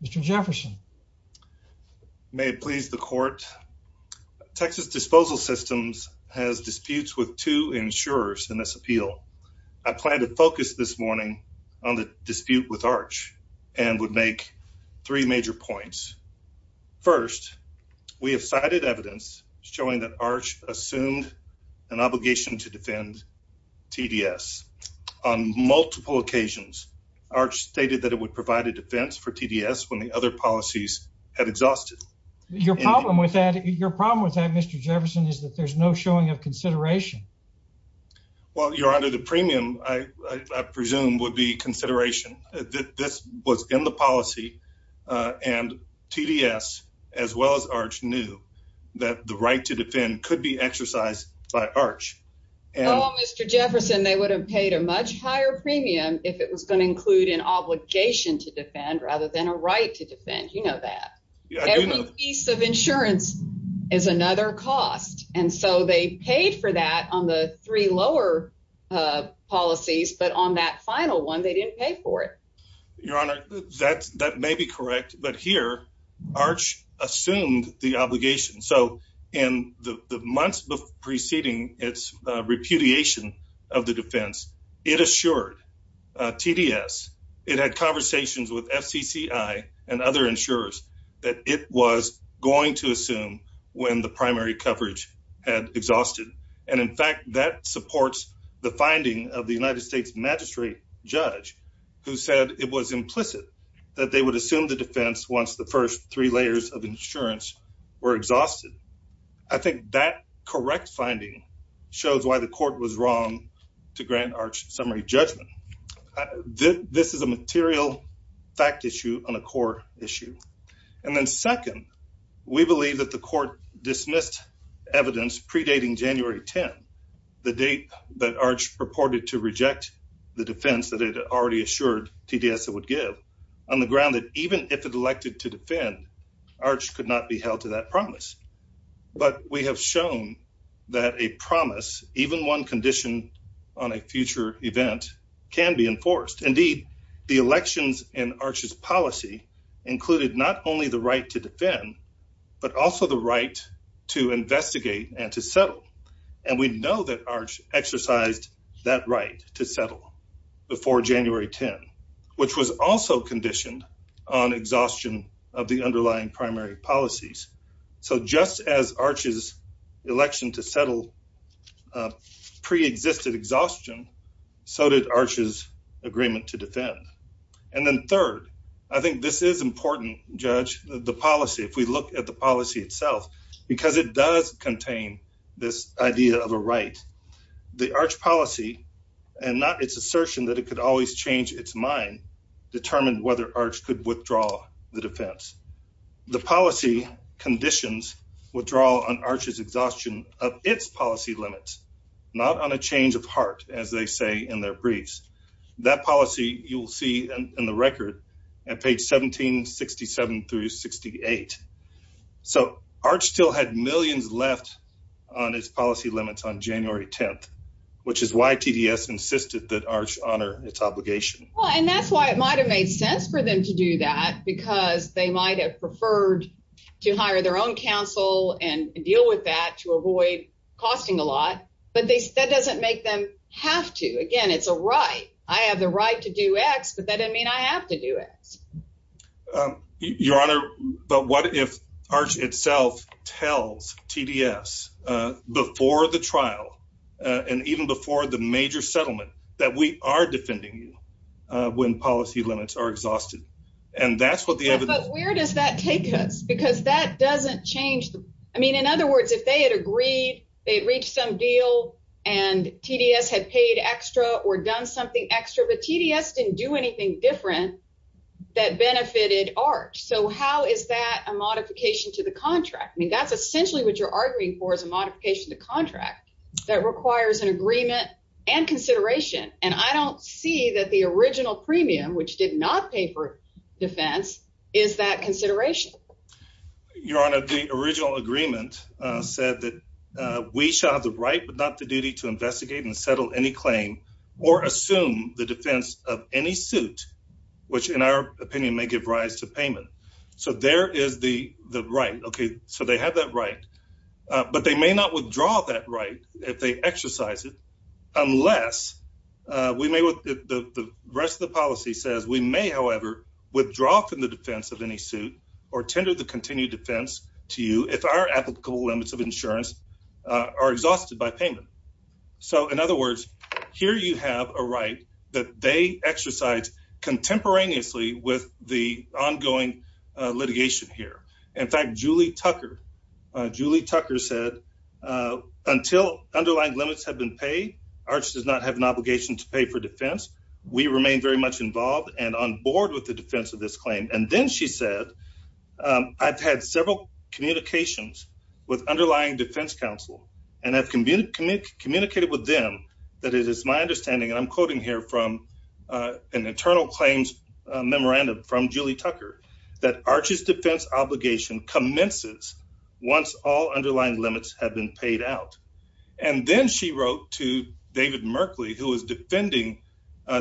Mr. Jefferson. May it please the court. Texas Disposal Systems has disputes with two insurers in this appeal. I plan to focus this morning on the dispute with Arch and would make three major points. First, we have cited evidence showing that Arch assumed an obligation to defend TDS on multiple occasions. Arch when the other policies had exhausted your problem with that. Your problem with that, Mr. Jefferson, is that there's no showing of consideration. Well, you're under the premium. I presume would be consideration that this was in the policy and TDS as well as Arch knew that the right to defend could be exercised by Arch and Mr. Jefferson. They would have paid a much higher premium if it was going to include an obligation to defend rather than a right to defend. You know, that piece of insurance is another cost. And so they paid for that on the three lower policies. But on that final one, they didn't pay for it. Your honor, that's that may be correct. But here, Arch assumed the obligation. So in the months preceding its repudiation of the defense, it assured TDS. It had conversations with FCCI and other insurers that it was going to assume when the primary coverage had exhausted. And in fact, that supports the finding of the United States Magistrate Judge who said it was implicit that they would assume the defense once the first three layers of insurance were exhausted. I think that correct finding shows why the court was wrong to grant Arch summary judgment. This is a material fact issue on a core issue. And then second, we believe that the court dismissed evidence predating January 10, the date that Arch purported to reject the defense that it already assured TDS it would give on the ground that even if it elected to defend, Arch could not be held to that promise. But we have shown that a promise, even one condition on a The elections in Arch's policy included not only the right to defend, but also the right to investigate and to settle. And we know that Arch exercised that right to settle before January 10, which was also conditioned on exhaustion of the underlying primary policies. So just as Arch's election to settle pre-existed exhaustion, so did Arch's agreement to defend. And then third, I think this is important, Judge, the policy. If we look at the policy itself, because it does contain this idea of a right, the Arch policy, and not its assertion that it could always change its mind, determined whether Arch could withdraw the defense. The policy conditions withdraw on Arch's exhaustion of its policy limits, not on a change of heart, as they say in their briefs. That policy you will see in the record at page 1767 through 68. So Arch still had millions left on its policy limits on January 10th, which is why TDS insisted that Arch honor its obligation. Well, and that's why it might have made sense for them to do that, because they might have preferred to hire their own counsel and deal with that to avoid costing a lot, but that doesn't make them have to. Again, it's a right. I have the right to do X, but that didn't mean I have to do X. Your Honor, but what if Arch itself tells TDS before the trial and even before the major settlement that we are defending you when policy limits are exhausted? And that's what the evidence... I mean, in other words, if they had agreed, they'd reached some deal and TDS had paid extra or done something extra, but TDS didn't do anything different that benefited Arch. So how is that a modification to the contract? I mean, that's essentially what you're arguing for is a modification to contract that requires an agreement and consideration. And I don't see that the original premium, which did not pay for defense, is that consideration. Your Honor, the original agreement said that we shall have the right, but not the duty to investigate and settle any claim or assume the defense of any suit, which in our opinion may give rise to payment. So there is the right. Okay, so they have that right, but they may not withdraw that right if they exercise it, unless we may with the rest of the policy says we may however withdraw from the defense of any suit or tender the continued defense to you if our applicable limits of insurance are exhausted by payment. So in other words, here you have a right that they exercise contemporaneously with the ongoing litigation here. In fact, Julie Tucker said until underlying limits have been paid, Arch does not have an obligation to pay for defense. We remain very much involved and on board with the defense of this claim. And then she said, I've had several communications with underlying defense counsel and have communicated with them that it is my understanding and I'm quoting here from an internal claims memorandum from Julie Tucker that Arch's defense obligation commences once all underlying limits have been paid out. And then she wrote to David Merkley, who is defending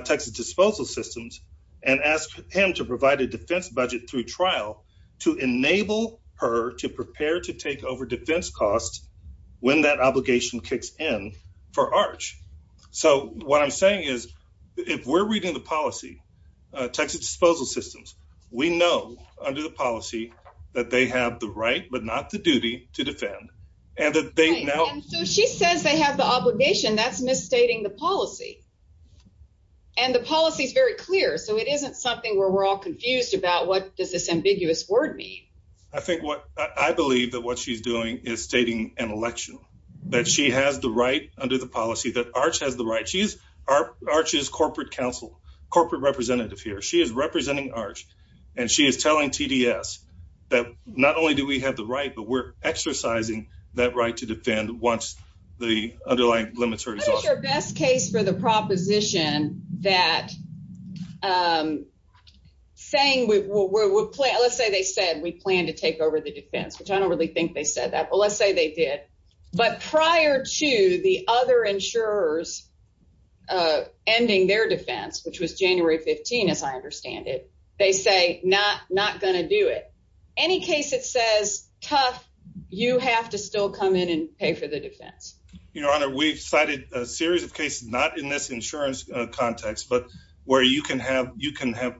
Texas Disposal Systems, and asked him to provide a defense budget through trial to enable her to prepare to take over defense costs when that obligation kicks in for Arch. So what I'm saying is if we're reading the policy, Texas Disposal Systems, we know under the policy that they have the right but not the duty to defend and that they now. So she says they have the obligation that's misstating the policy and the policy is very clear. So it isn't something where we're all confused about what does this ambiguous word mean? I think what I believe that what she's doing is stating an election that she has the right under the policy that Arch has the right. She's Arch's corporate counsel, corporate representative here. She is representing Arch and she is telling TDS that not only do we have the right but we're exercising that right to defend once the underlying limits are exhausted. What is your best case for the proposition that saying, let's say they said we plan to take over the defense, which I don't really think they said that, but let's say they did, but prior to the other insurers ending their defense, which was January 15, as I understand it, they say not going to do it. Any case it says tough, you have to still come in and pay for the defense. Your Honor, we've cited a series of cases, not in this insurance context, but where you can have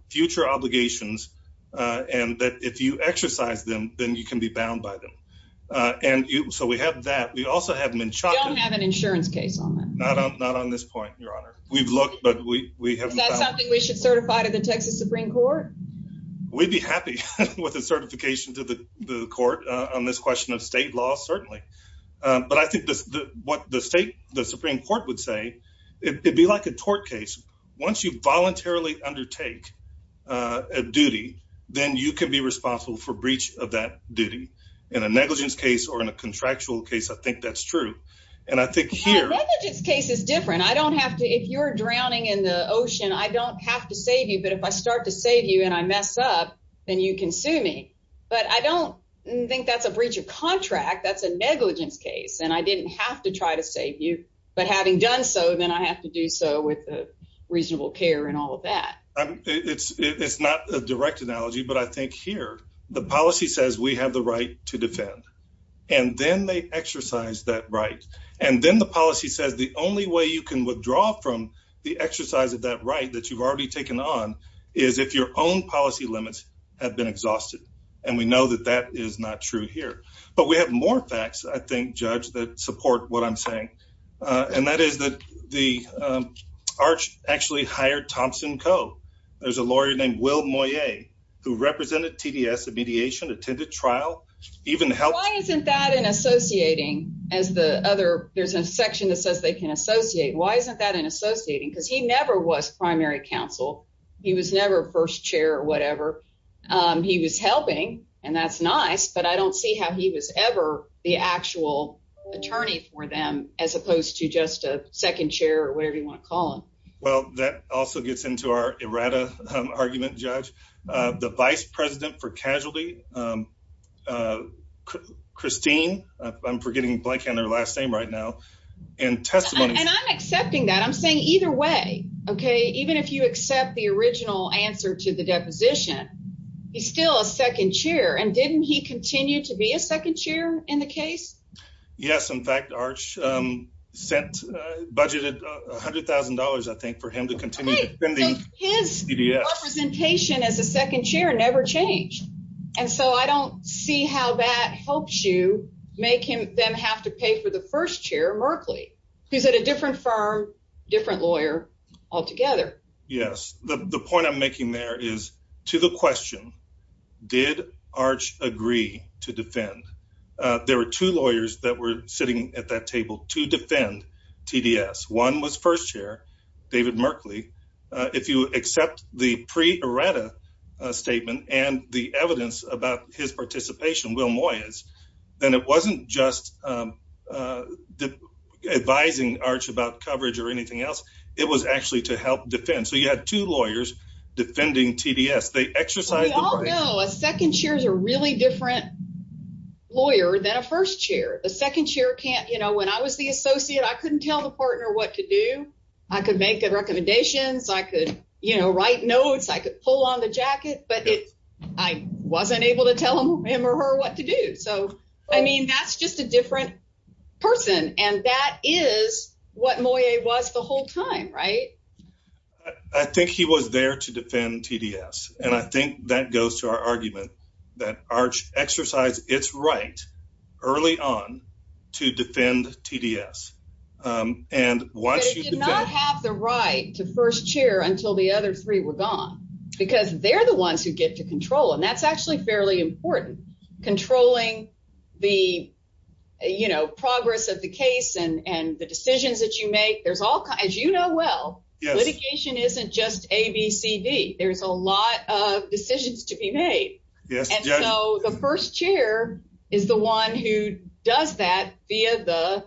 future obligations and that if you exercise them, then you can be bound by them. And so we have that. We also have Menchaca. We don't have an insurance case on that. Not on this point, Your Honor. We've looked, but we have not. Is that something we should certify to the Texas Supreme Court? We'd be happy with a certification to the court on this question of state law, certainly. But I think what the state, the Supreme Court would say, it would be like a tort case. Once you voluntarily undertake a duty, then you can be responsible for breach of that duty. In a negligence case or in a contractual case, I think that's true. And I think here... Negligence case is different. I don't have to, if you're drowning in the ocean, I don't have to save you, but if I start to save you and I mess up, then you can sue me. But I don't think that's a breach of contract. That's a negligence case. And I didn't have to try to save you, but having done so, then I have to do so with reasonable care and all of that. It's not a direct analogy, but I think here, the policy says we have the right to defend. And then they exercise that right. And then the policy says the only way you can withdraw from the exercise of that right that you've already taken on is if your own policy limits have been exhausted. And we know that that is not true here. But we have more facts, I think, Judge, that support what I'm saying. And that is that the Arch actually hired Thompson Coe. There's a lawyer named Will Moyet who represented TDS in mediation, attended trial, even helped... Why isn't that in associating as the other... There's a section that says they can associate. Why isn't that in associating? Because he never was primary counsel. He was never first chair or whatever. He was helping and that's nice, but I don't see how he was ever the actual attorney for them as opposed to just a second chair or whatever you want to call him. Well, that also gets into our errata argument, Judge. The vice president for casualty, Christine, I'm forgetting blanking on her last name right now, and testimony... And I'm accepting that. I'm saying either way, okay, even if you accept the original answer to the deposition, he's still a second chair and didn't he continue to be a second chair in the case? Yes. In fact, Arch budgeted $100,000, I think, for him to continue defending TDS. Okay, so his representation as a second chair never changed. And so I don't see how that helps you make them have to pay for the first chair, Merkley, who's at a different firm, different lawyer altogether. Yes, the point I'm making there is, to the question, did Arch agree to defend? There were two lawyers that were sitting at that table to defend TDS. One was first chair, David Merkley. If you accept the pre-errata statement and the evidence about his participation, Will Moyes, then it wasn't just advising Arch about coverage or anything else. It was actually to help defend. So you had two lawyers defending TDS. They exercised the right. We all know a second chair is a really different lawyer than a first chair. The second chair can't, you know, when I was the associate, I couldn't tell the partner what to do. I could make good recommendations. I could, you know, write notes. I could pull on the jacket, but I wasn't able to tell him or her what to do. So, I mean, that's just a different person and that is what he was doing at the time, right? I think he was there to defend TDS. And I think that goes to our argument that Arch exercised its right early on to defend TDS. But it did not have the right to first chair until the other three were gone because they're the ones who get to control and that's actually fairly important. Controlling the, you know, progress of the case and the decisions that you make. There's all kinds, you know, well, litigation isn't just ABCD. There's a lot of decisions to be made. Yes, and so the first chair is the one who does that via the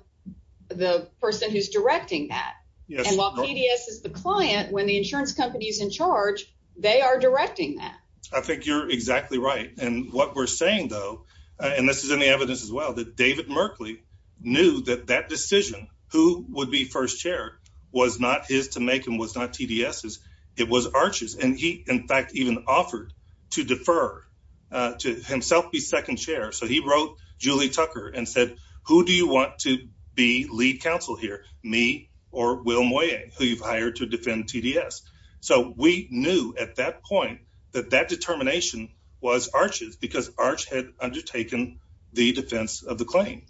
the person who's directing that. And while TDS is the client when the insurance company is in charge, they are directing that. I think you're exactly right. And what we're saying though, and this is any evidence as well, that David Merkley knew that that decision, who would be first chair, was not his to make and was not TDS's. It was Arch's and he in fact even offered to defer to himself be second chair. So he wrote Julie Tucker and said, who do you want to be lead counsel here? Me or Will Moyet, who you've hired to defend TDS. So we knew at that point that that determination was Arch's because Arch had undertaken the defense of the claim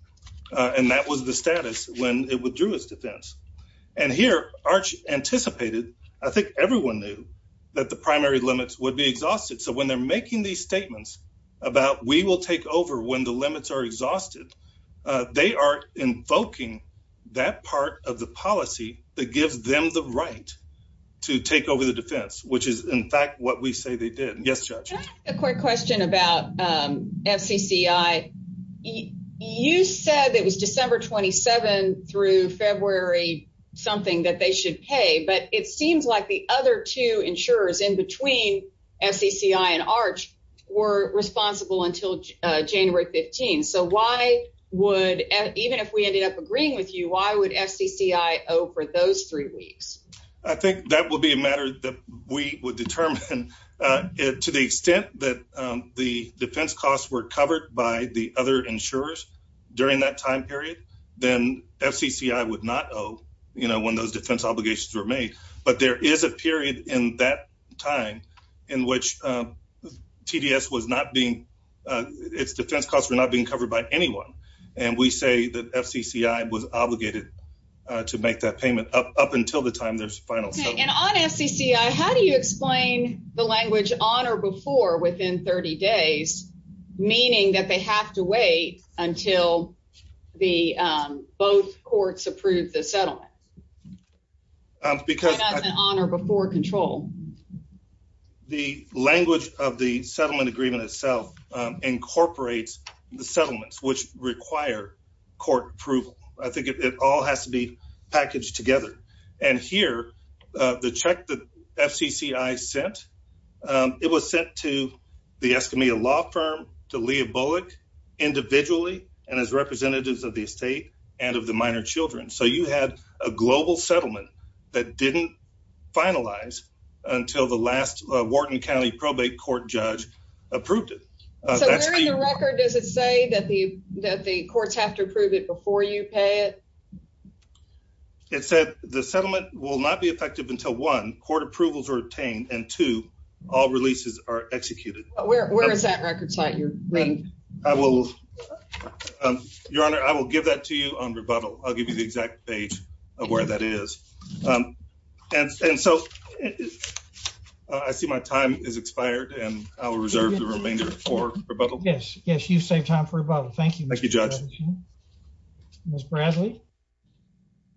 and that was the status when it withdrew its defense. And here Arch anticipated, I think everyone knew that the primary limits would be exhausted. So when they're making these statements about we will take over when the limits are exhausted, they are invoking that part of the policy that gives them the right to take over the defense, which is in fact what we say they did. A quick question about FCCI. You said it was December 27 through February something that they should pay, but it seems like the other two insurers in between FCCI and Arch were responsible until January 15. So why would, even if we ended up agreeing with you, why would FCCI owe for those three weeks? I think that would be a matter that we would determine to the extent that the defense costs were covered by the other insurers during that time period, then FCCI would not owe, you know, when those defense obligations were made. But there is a period in that time in which TDS was not being, its defense costs were not being covered by anyone. And we say that FCCI was obligated to make that payment up until the time there's final settlement. And on FCCI, how do you explain the language on or before within 30 days, meaning that they have to wait until both courts approve the settlement? Because on or before control? The language of the settlement agreement itself incorporates the settlements which require court approval. I think it all has to be packaged together. And here, the check that FCCI sent, it was sent to the Escamilla Law Firm, to Leah Bullock individually, and as representatives of the estate and of the minor children. So you had a global settlement that didn't finalize until the last Wharton County probate court judge approved it. So where in the record does it say that the courts have to before you pay it? It said the settlement will not be effective until one, court approvals are obtained, and two, all releases are executed. Where is that record site you're reading? I will, Your Honor, I will give that to you on rebuttal. I'll give you the exact date of where that is. And so I see my time is expired and I will reserve the remainder for rebuttal. Yes. Yes, you saved time for rebuttal. Thank you. Thank you, Judge. Ms. Brasley?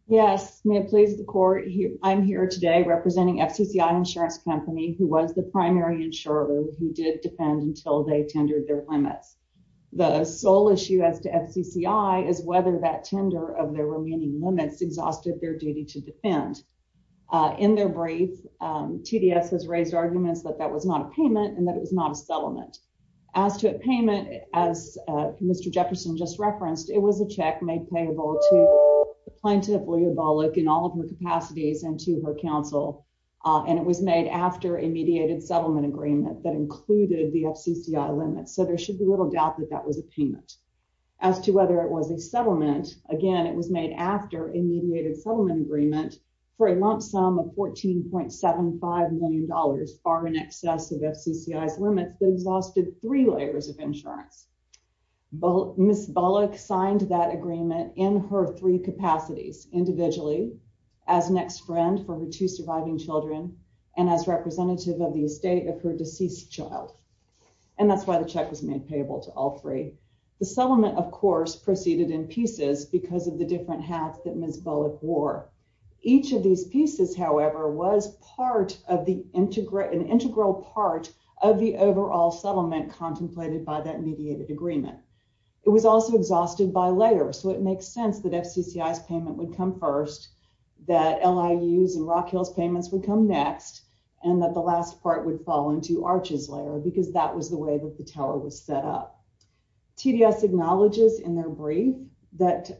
Yes, may it please the court, I'm here today representing FCCI Insurance Company, who was the primary insurer who did defend until they tendered their limits. The sole issue as to FCCI is whether that tender of their remaining limits exhausted their duty to defend. In their brief, TDS has raised arguments that that was not a payment and that it was not a settlement. As to a payment, as Mr. Jefferson just referenced, it was a check made payable to the plaintiff, Leah Bollock, in all of her capacities and to her counsel. And it was made after a mediated settlement agreement that included the FCCI limits. So there should be little doubt that that was a payment. As to whether it was a settlement, again, it was made after a mediated settlement agreement for a lump sum of $14.75 million, far in excess of FCCI's limits, that exhausted three layers of insurance. Ms. Bollock signed that agreement in her three capacities individually, as next friend for her two surviving children, and as representative of the estate of her deceased child. And that's why the check was made payable to all three. The settlement, of course, proceeded in pieces because of the different hats that Ms. Bollock wore. Each of these pieces, however, was part of an integral part of the overall settlement contemplated by that mediated agreement. It was also exhausted by layers. So it makes sense that FCCI's payment would come first, that LIU's and Rockhill's payments would come next, and that the last part would fall into Arches' layer, because that was the way that the tower was set up. TDS acknowledges in their brief that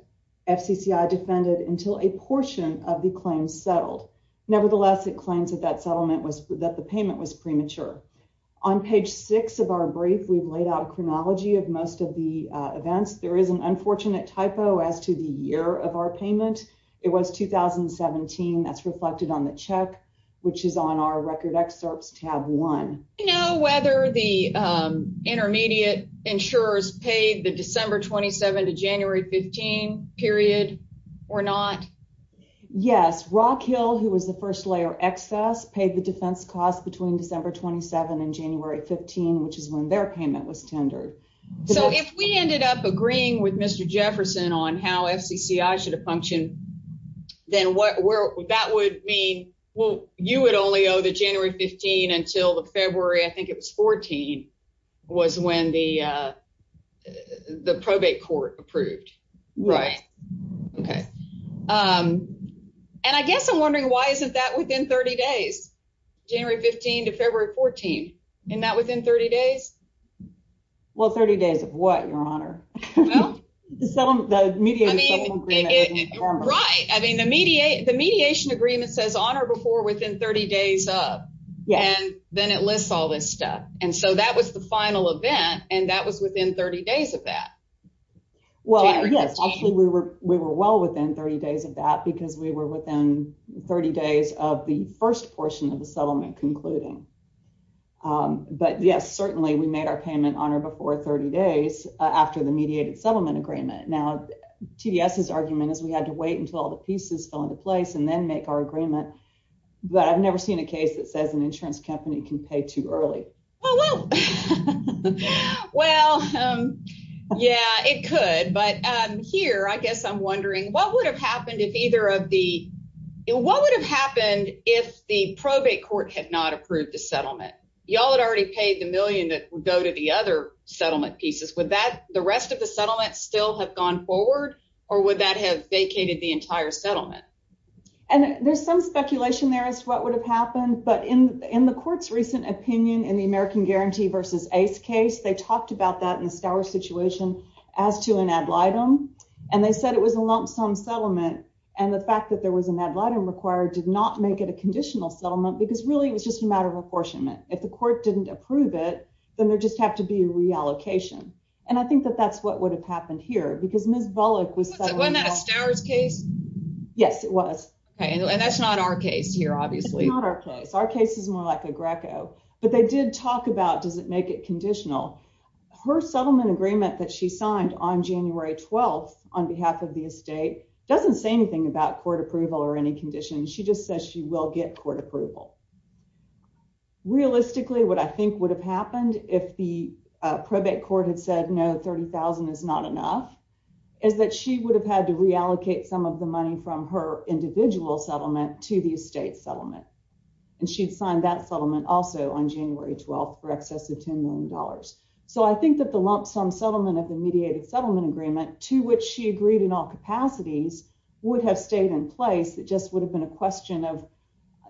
FCCI defended until a portion of the claims settled. Nevertheless, it claims that the payment was premature. On page six of our brief, we've laid out a chronology of most of the events. There is an unfortunate typo as to the year of our payment. It was 2017. That's reflected on the check, which is on our record excerpts tab one. Do you know whether the intermediate insurers paid the December 27 to January 15 period or not? Yes. Rockhill, who was the first layer excess, paid the defense cost between December 27 and January 15, which is when their payment was tendered. So if we ended up agreeing with Mr. Jefferson on how FCCI should have functioned, then that would mean, well, you would only owe the January 15 until the February, I think it was 14, was when the probate court approved. Right. Okay. And I guess I'm wondering why isn't that within 30 days? January 15 to February 14, isn't that within 30 days? Well, 30 days of what, your honor? Right. I mean, the mediation agreement says on or before within 30 days up, and then it lists all this stuff. And so that was the final event, and that was within 30 days of that. Well, yes, actually, we were well within 30 days of that because we were within 30 days of the first portion of the settlement concluding. But yes, certainly we made our payment on or before 30 days after the mediated settlement agreement. Now, TDS's argument is we had to wait until all the pieces fell into place and then make our agreement, but I've never seen a case that says an insurance company can pay too early. Well, yeah, it could. But here, I guess I'm wondering what would have happened if either of the, what would have happened if the probate court had not approved the settlement? Y'all had already paid the million that would go to the other settlement pieces. Would that, the rest of the settlement still have gone forward or would that have vacated the entire settlement? And there's some speculation there as to what would have happened, but in the court's recent opinion in the American Guarantee versus Ace case, they talked about that in the Stowers situation as to an ad litem, and they said it was a lump sum settlement and the fact that there was an ad litem required did not make it a conditional settlement because really it was just a matter of apportionment. If the court didn't approve it, then there just have to be a reallocation. And I think that that's what would have happened here because Ms. Bullock was- Wasn't that a Stowers case? Yes, it was. Okay, and that's not our case here, obviously. It's not our case. Our case is more like a Greco, but they did talk about does it make it conditional. Her settlement agreement that she signed on January 12th on behalf of the estate doesn't say anything about court approval or any condition. She just says she will get court approval. Realistically, what I think would have happened if the probate court had said, no, 30,000 is not enough, is that she would have had to reallocate some of the money from her individual settlement to the estate settlement. And she'd signed that settlement also on January 12th for excess of $10 million. So I think that the lump sum settlement of the mediated settlement agreement to which she agreed in all capacities would have stayed in place. It just would have been a question of,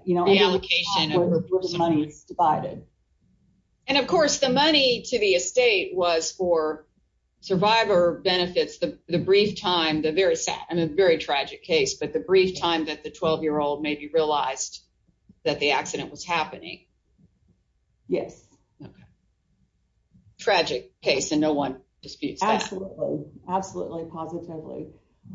you know, the allocation of the money is divided. And of course, the money to the estate was for survivor benefits. The brief time, the very sad and a very tragic case, but the brief time that the 12-year-old maybe realized that the accident was happening. Yes. Tragic case and no one disputes that. Absolutely, positively.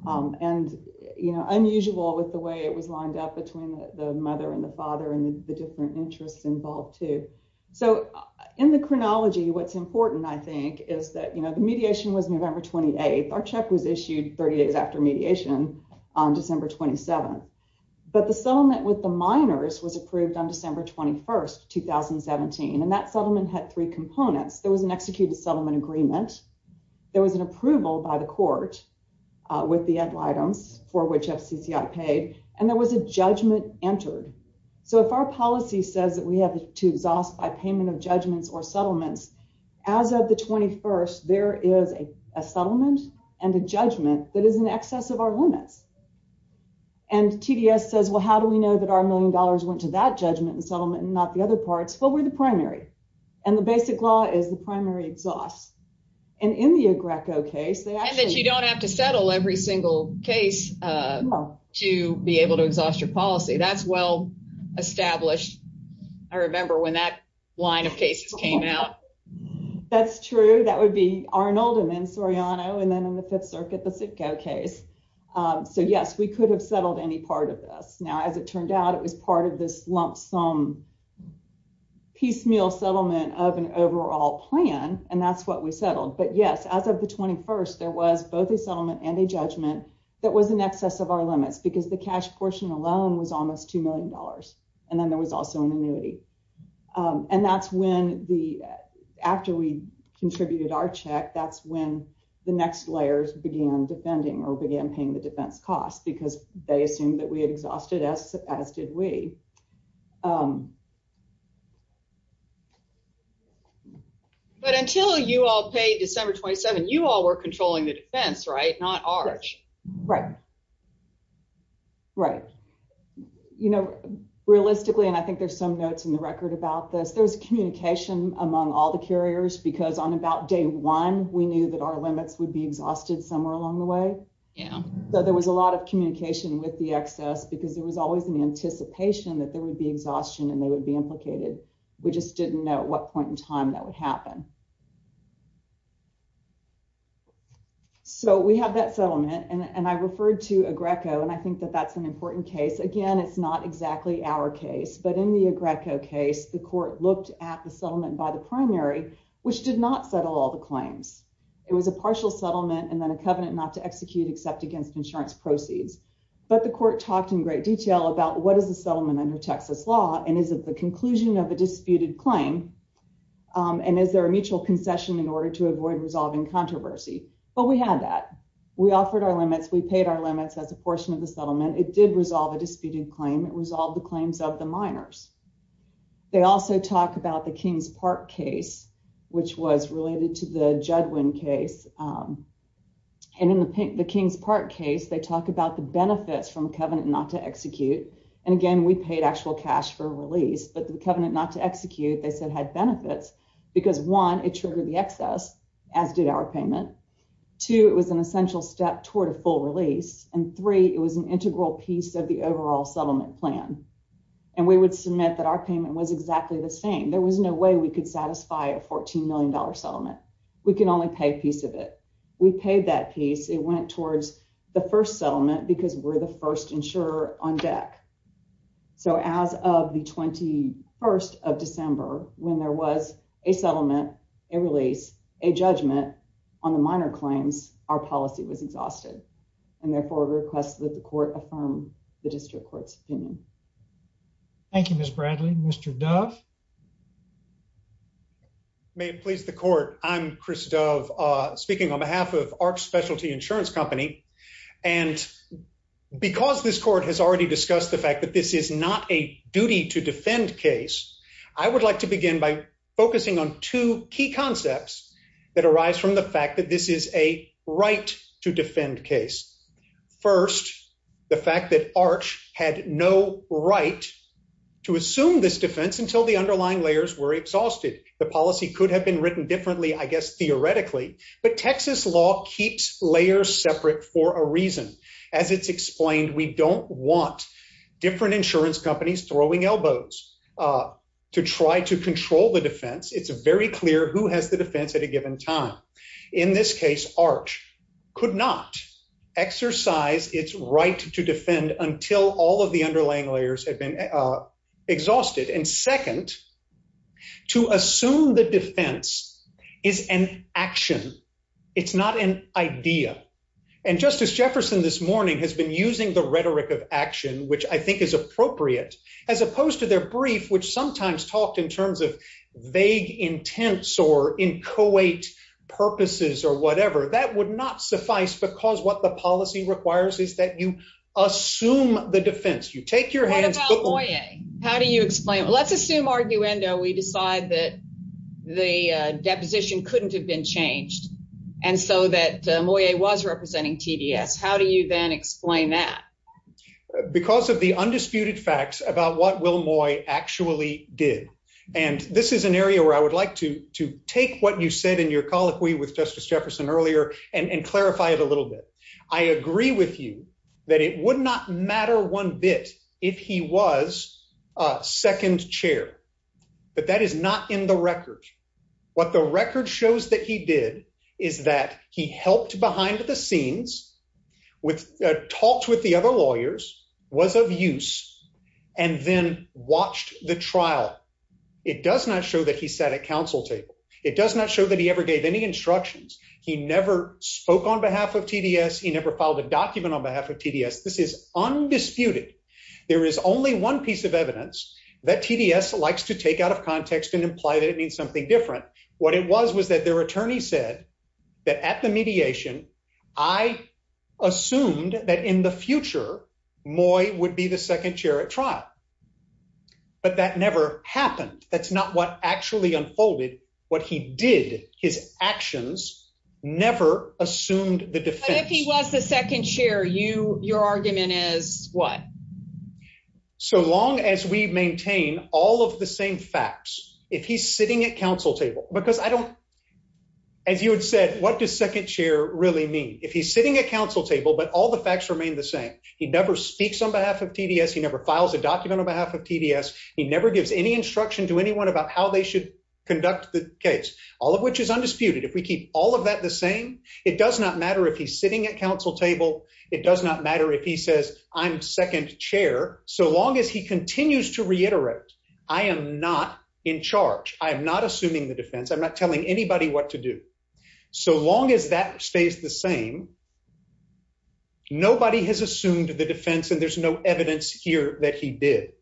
And, you know, unusual with the way it was lined up between the mother and the father and the different interests involved too. So in the chronology, what's important, I think, is that, you know, the mediation was November 28th. Our check was issued 30 days after mediation on December 27th. But the settlement with the minors was approved on December 21st, 2017. And that settlement had three components. There was an executed settlement agreement. There was an approval by the court with the end items for which FCCI paid, and there was a judgment entered. So if our policy says that we have to exhaust by payment of judgments or settlements, as of the 21st, there is a settlement and a judgment that is in excess of our limits. And TDS says, well, how do we know that our million dollars went to that judgment and settlement and not the other parts? Well, we're the primary. And the basic law is the primary exhaust. And in the Agrecco case... And that you don't have to settle every single case to be able to exhaust your policy. That's well established. I remember when that line of cases came out. That's true. That would be Arnold and then Soriano, and then in the Fifth Circuit, the Sitko case. So yes, we could have settled any part of this. Now, as it turned out, it was part of this lump sum, piecemeal settlement of an overall plan. And that's what we settled. But yes, as of the 21st, there was both a settlement and a judgment that was in excess of our limits because the cash portion alone was almost two million dollars. And then there was also an annuity. And that's when the... After we contributed our check, that's when the next layers began defending or began paying the defense cost because they assumed that we had exhausted as did we. But until you all paid December 27, you all were controlling the defense, right? Not ours. Right. Right. You know, realistically, and I think there's some notes in the record about this, there's communication among all the carriers because on about day one, we knew that our limits would be exhausted somewhere along the way. Yeah. there was always an anticipation that we would be exhausted. that there would be exhaustion and they would be implicated. We just didn't know what point in time that would happen. So we have that settlement and I referred to Agreco and I think that that's an important case. Again, it's not exactly our case, but in the Agreco case, the court looked at the settlement by the primary, which did not settle all the claims. It was a partial settlement and then a covenant not to execute except against insurance proceeds. But the court talked in great detail about what is the settlement under Texas law and is it the conclusion of a disputed claim and is there a mutual concession in order to avoid resolving controversy? But we had that. We offered our limits. We paid our limits as a portion of the settlement. It did resolve a disputed claim. It resolved the claims of the minors. They also talk about the Kings Park case, which was related to the Judwin case. And in the Kings Park case, they talk about the benefits from a covenant not to execute. And again, we paid actual cash for release, but the covenant not to execute. They said had benefits because one, it triggered the excess as did our payment. Two, it was an essential step toward a full release and three, it was an integral piece of the overall settlement plan and we would submit that our payment was exactly the same. There was no way we could satisfy a 14 million dollar settlement. We can only pay a piece of it. We paid that piece. It went towards the first settlement because we're the first insurer on deck. So as of the 21st of December, when there was a settlement, a release, a judgment on the minor claims, our policy was exhausted and therefore requests that the court affirm the district court's opinion. Thank you, Ms. Bradley. Mr. Dove. May it please the court. I'm Chris Dove speaking on behalf of Ark Specialty Insurance Company and because this court has already discussed the fact that this is not a duty to defend case, I would like to begin by focusing on two key concepts that arise from the fact that this is a right to defend case. First, the fact that Arch had no right to assume this defense until the underlying layers were exhausted. The policy could have been written differently, I guess, theoretically, but Texas law keeps layers separate for a reason. As it's explained, we don't want different insurance companies throwing elbows to try to control the defense. It's very clear who has the defense at a given time. In this case, Arch could not exercise its right to defend until all of the underlying layers had been exhausted. And second, to assume the defense is an action. It's not an idea. And Justice Jefferson this morning has been using the rhetoric of action, which I think is appropriate, as opposed to their brief, which sometimes talked in terms of vague, intense, or inchoate purposes or whatever. That would not suffice because what the policy requires is that you assume the defense. You take your hands. How do you explain? Let's assume, arguendo, we decide that the deposition couldn't have been changed and so that Moye was representing TDS. How do you then explain that? Because of the undisputed facts about what Will Moy actually did, and this is an area where I would like to take what you said in your colloquy with Justice Jefferson earlier and clarify it a little bit. I agree with you that it would not matter one bit if he was second chair, but that is not in the record. What the record shows that he did is that he helped behind the scenes, talked with the other lawyers, was of use, and then watched the trial. It does not show that he sat at counsel table. It does not show that he ever gave any instructions. He never spoke on behalf of TDS. He never filed a document on behalf of TDS. This is undisputed. There is only one piece of evidence that TDS likes to take out of context and imply that it means something different. What it was was that their attorney said that at the mediation I assumed that in the future Moye would be the second chair at trial. But that never happened. That's not what actually unfolded what he did. His actions never assumed the defense. If he was the second chair, your argument is what? So long as we maintain all of the same facts, if he's sitting at counsel table, because I don't, as you had said, what does second chair really mean? If he's sitting at counsel table, but all the facts remain the same, he never speaks on behalf of TDS. He never files a document on behalf of TDS. He never gives any instruction to anyone about how they should conduct the case, all of which is undisputed. If we keep all of that the same, it does not matter if he's sitting at counsel table. It does not matter if he says I'm second chair. So long as he continues to reiterate, I am not in charge. I am not assuming the defense. I'm not telling anybody what to do. So long as that stays the same. Nobody has assumed the defense and there's no evidence here that he did.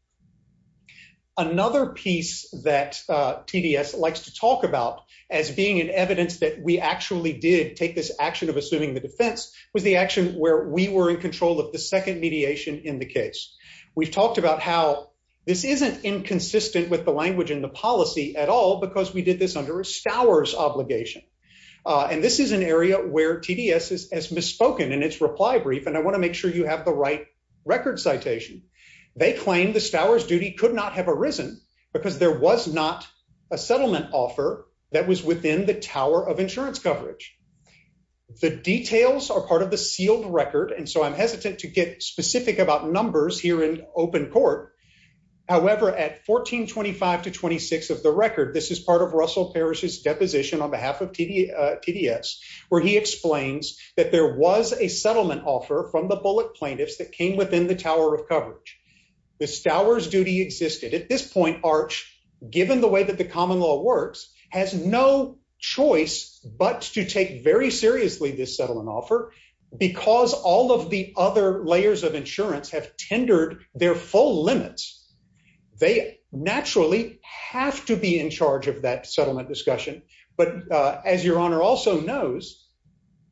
Another piece that TDS likes to talk about as being an evidence that we actually did take this action of assuming the defense was the action where we were in control of the second mediation in the case. We've talked about how this isn't inconsistent with the language and the policy at all because we did this under a Stowers obligation. And this is an area where TDS is as misspoken in its reply brief and I want to make sure you have the right record citation. They claim the Stowers duty could not have arisen because there was not a settlement offer that was within the tower of insurance coverage. The details are part of the sealed record. And so I'm hesitant to get specific about numbers here in open court. However, at 1425 to 26 of the record, this is part of Russell Parrish's deposition on behalf of TD TDS where he explains that there was a settlement offer from the bullet plaintiffs that came within the tower of coverage. The Stowers duty existed at this point Arch given the way that the common law works has no choice but to take very seriously this settlement offer because all of the other layers of insurance have tendered their full limits. They naturally have to be in charge of that settlement discussion. But as your honor also knows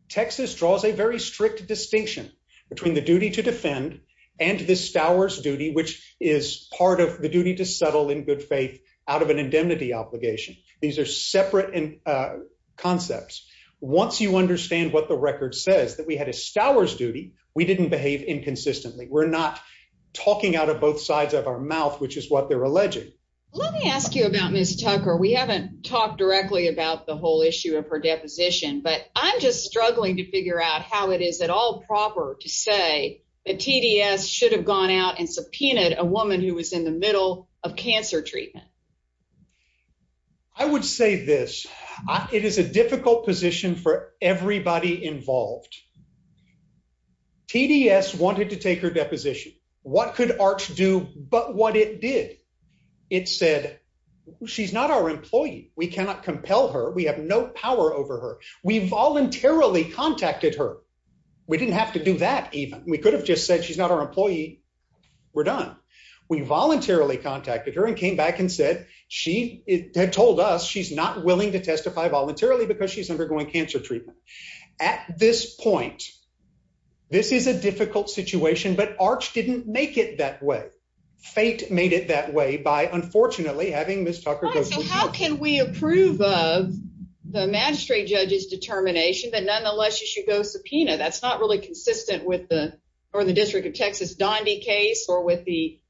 Texas draws a very strict distinction between the duty to defend and the Stowers duty, which is part of the duty to settle in good faith out of an indemnity obligation. These are separate and concepts. Once you understand what the record says that we had a Stowers duty. We didn't behave inconsistently. We're not talking out of both sides of our mouth, which is what they're alleging. Let me ask you about Miss Tucker. We haven't talked directly about the whole issue of her deposition, but I'm just struggling to figure out how it is at all proper to say that TDS should have gone out and subpoenaed a woman who was in the middle of cancer treatment. I would say this it is a difficult position for everybody involved. TDS wanted to take her deposition. What could Arch do but what it did it said she's not our employee. We cannot compel her. We have no power over her. We voluntarily contacted her. We didn't have to do that. Even we could have just said she's not our employee. We're done. We voluntarily contacted her and came back and said she had told us she's not willing to testify voluntarily because she's undergoing cancer treatment at this point. This is a difficult situation, but Arch didn't make it that way fate made it that way by unfortunately having this Tucker can we approve of the magistrate judge's determination that nonetheless you should go subpoena. That's not really consistent with the or the District of Texas Donde case or with the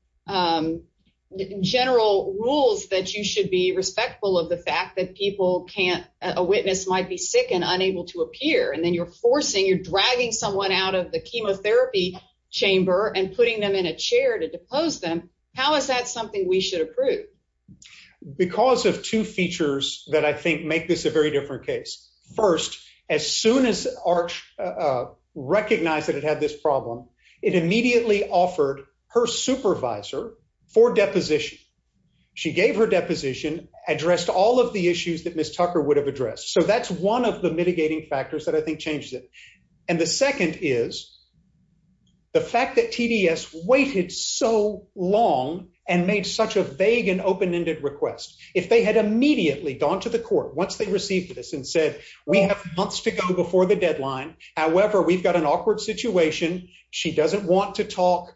general rules that you should be respectful of the fact that people can't a witness might be sick and unable to appear and then you're forcing you're dragging someone out of the chemotherapy chamber and putting them in a chair to depose them. How is that something we should approve? Because of two features that I think make this a very different case first as soon as Arch recognized that it had this problem it immediately offered her supervisor for deposition. She gave her deposition addressed all of the issues that Miss Tucker would have addressed. So that's one of the mitigating factors that I think changes it and the second is the fact that TDS waited so long and made such a vague and open-ended request if they had immediately gone to the court. Once they received this and said we have months to go before the deadline. However, we've got an awkward situation. She doesn't want to talk.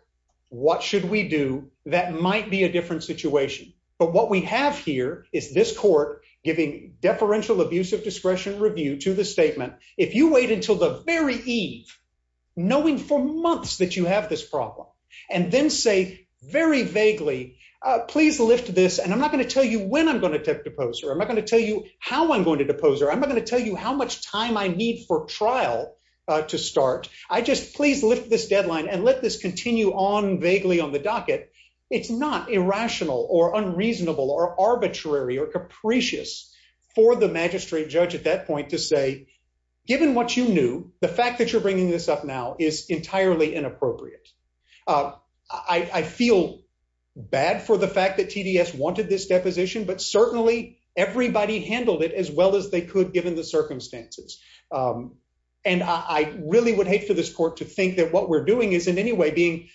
What should we do? That might be a different situation. But what we have here is this court giving deferential abuse of discretion review to the statement. If you wait until the very Eve knowing for months that you have this problem and then say very vaguely, please lift this and I'm not going to tell you when I'm going to take the poster. I'm not going to tell you how I'm going to depose her. I'm not going to tell you how much time I need for trial to start. I just please lift this deadline and let this continue on vaguely on the docket. It's not irrational or unreasonable or arbitrary or capricious for the magistrate judge at that point to say given what you knew the fact that you're bringing this up now is entirely inappropriate. I feel bad for the fact that TDS wanted this deposition, but certainly everybody handled it as well as they could given the circumstances and I really would hate for this court to think that what we're doing is in any way being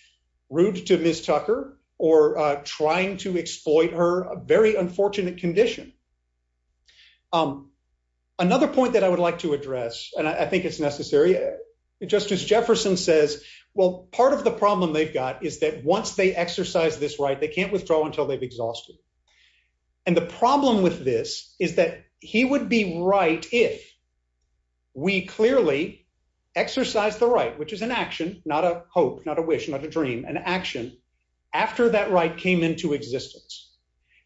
rude to Miss Tucker or trying to exploit her a very unfortunate condition. Another point that I would like to address and I think it's necessary Justice Jefferson says well part of the problem they've got is that once they exercise this right they can't withdraw until they've exhausted and the problem with this is that he would be right if we clearly exercise the right which is an action not a hope not a wish not a dream and action after that right came into existence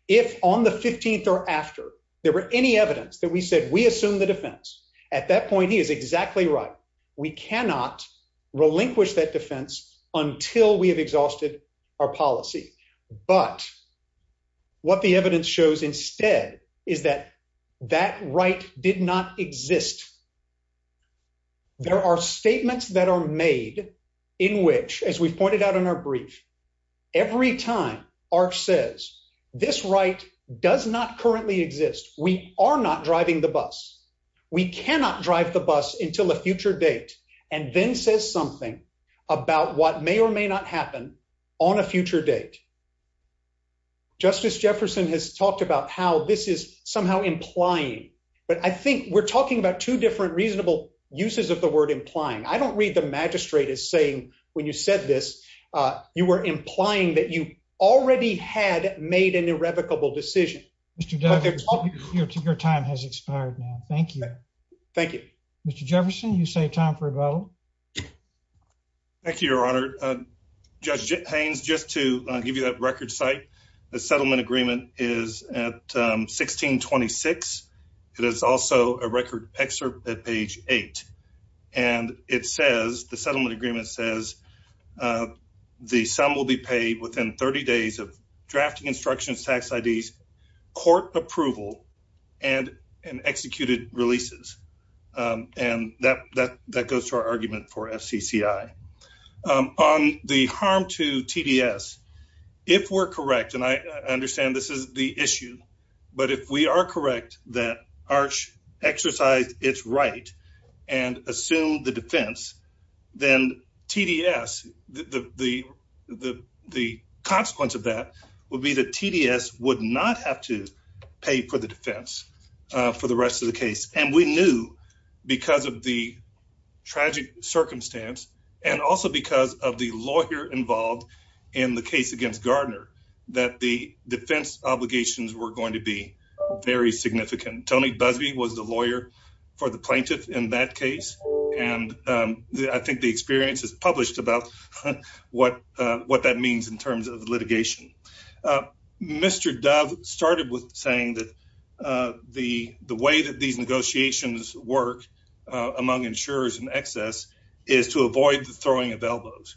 if on the 15th or after there were any evidence that we said we assume the defense at that point is exactly right. We cannot relinquish that defense until we have exhausted our policy, but what the evidence shows instead is that that right did not exist. There are statements that are made in which as we pointed out in our brief every time our says this right does not currently exist. We are not driving the bus. We cannot drive the bus until a future date and then says something about what may or may not happen on a future date. Justice Jefferson has talked about how this is somehow implying but I think we're talking about two different reasonable uses of the word implying. I don't read the magistrate is saying when you said this you were implying that you already had made an irrevocable decision. Mr. Douglas, your time has expired now. Thank you. Thank you, Mr. Jefferson. You say time for a vote. Thank you, your Honor. Judge Haynes just to give you that record site. The settlement agreement is at 1626. It is also a record excerpt at page 8 and it says the settlement agreement says the sum will be paid within 30 days of drafting instructions tax IDs court approval and an executed releases and that that that goes to our argument for FCCI on the harm to TDS. If we're correct and I understand this is the issue, but if we are correct that arch exercise, it's right and assume the defense then TDS the the the consequence of that would be that TDS would not have to pay for the defense for the rest of the case and we knew because of the tragic circumstance and also because of the lawyer involved in the case against Gardner that the defense obligations were going to be very significant. Tony Busby was the lawyer for the plaintiff in that case. And I think the experience is published about what what that means in terms of litigation. Mr. Dove started with saying that the the way that these negotiations work among insurers and excess is to avoid the throwing of elbows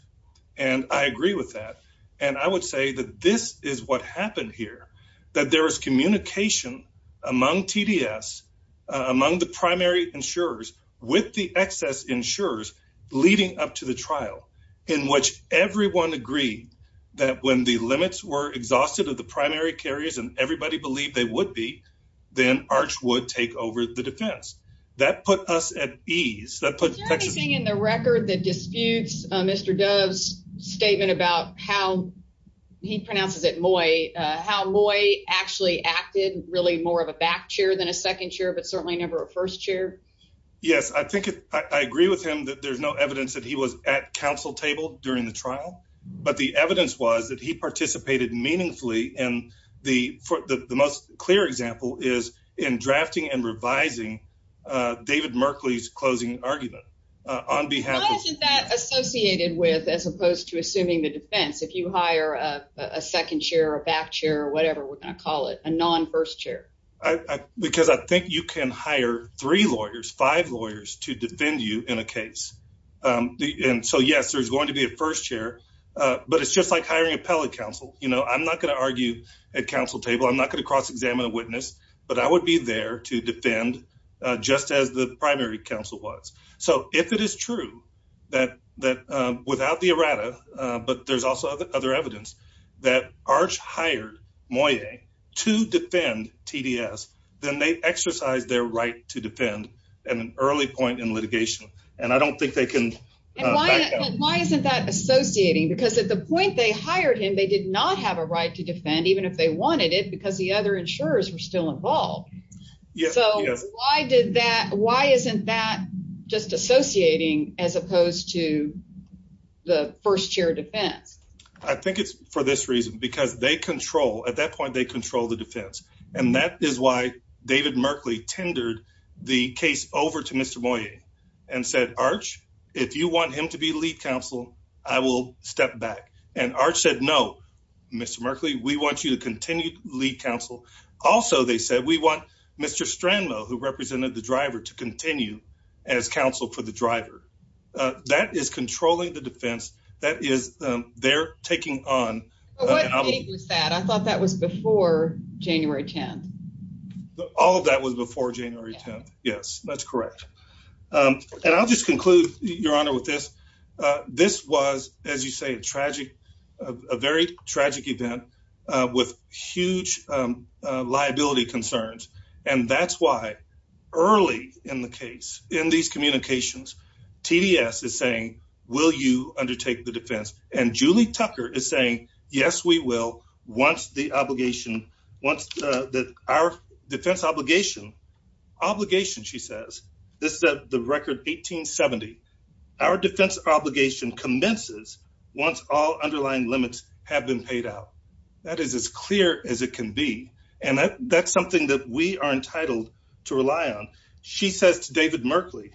and I agree with that and I would say that this is what happened here that there is communication among TDS among the primary insurers with the excess insurers leading up to the trial in which everyone agreed that when the limits were exhausted of the primary carriers and everybody believed they would be then arch would take over the defense that put us at ease that put everything in the record that disputes. Mr. Dove's statement about how he pronounces it. Moy how Moy actually acted really more of a back chair than a second chair, but certainly never a first chair. Yes. I think I agree with him that there's no evidence that he was at counsel table during the trial, but the evidence was that he participated meaningfully and the for the most clear example is in drafting and revising David Merkley's closing argument on behalf of that associated with as opposed to assuming the defense. If you hire a second chair or back chair, whatever we're going to call it a non first chair because I think you can hire three lawyers five lawyers to defend you in a case the end. So yes, there's going to be a first chair, but it's just like hiring appellate counsel. You know, I'm not going to argue at counsel table. I'm not going to cross-examine a witness, but I would be there to defend just as the primary counsel was. So if it is true that that without the errata, but there's also other evidence that arch hired Moy to defend TDS, then they exercise their right to defend and an early point in litigation and I don't think they can why isn't that associating because at the point they hired him they did not have a right to defend even if they wanted it because the other insurers were still involved. Yes. So why did that why isn't that just associating as opposed to the first chair defense? I think it's for this reason because they control at that point. They control the defense and that is why David Merkley tendered the case over to Mr. Moy and said arch if you want him to be lead counsel, I will step back and arch said no. Mr. Merkley. We want you to continue to lead counsel. Also. They said we want Mr. Stranlow who represented the driver to continue as counsel for the driver that is controlling the defense that is they're taking on that. I thought that was before January 10th. All of that was before January 10th. Yes, that's correct. And I'll just conclude your honor with this. This was as you say a tragic a very tragic event with huge liability concerns. And that's why early in the case in these communications TDS is saying will you undertake the defense and Julie Tucker is saying yes, we will once the obligation once that our defense obligation obligation. She says this that the record 1870 our defense obligation commences once all underlying limits have been paid out that is as clear as it can be and that's something that we are entitled to rely on. She says to David Merkley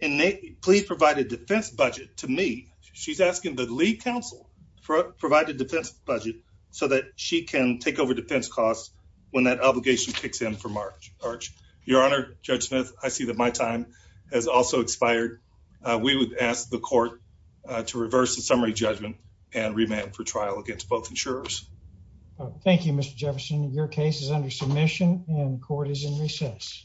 and they please provide a defense budget to me. She's asking the lead counsel for provide a defense budget so that she can take over defense costs when that obligation kicks in for March March your honor Judge Smith. I see that my time has also expired. We would ask the court to reverse the summary judgment and remand for trial against both insurers. Thank you. Mr. Jefferson your case is under submission and court is in recess.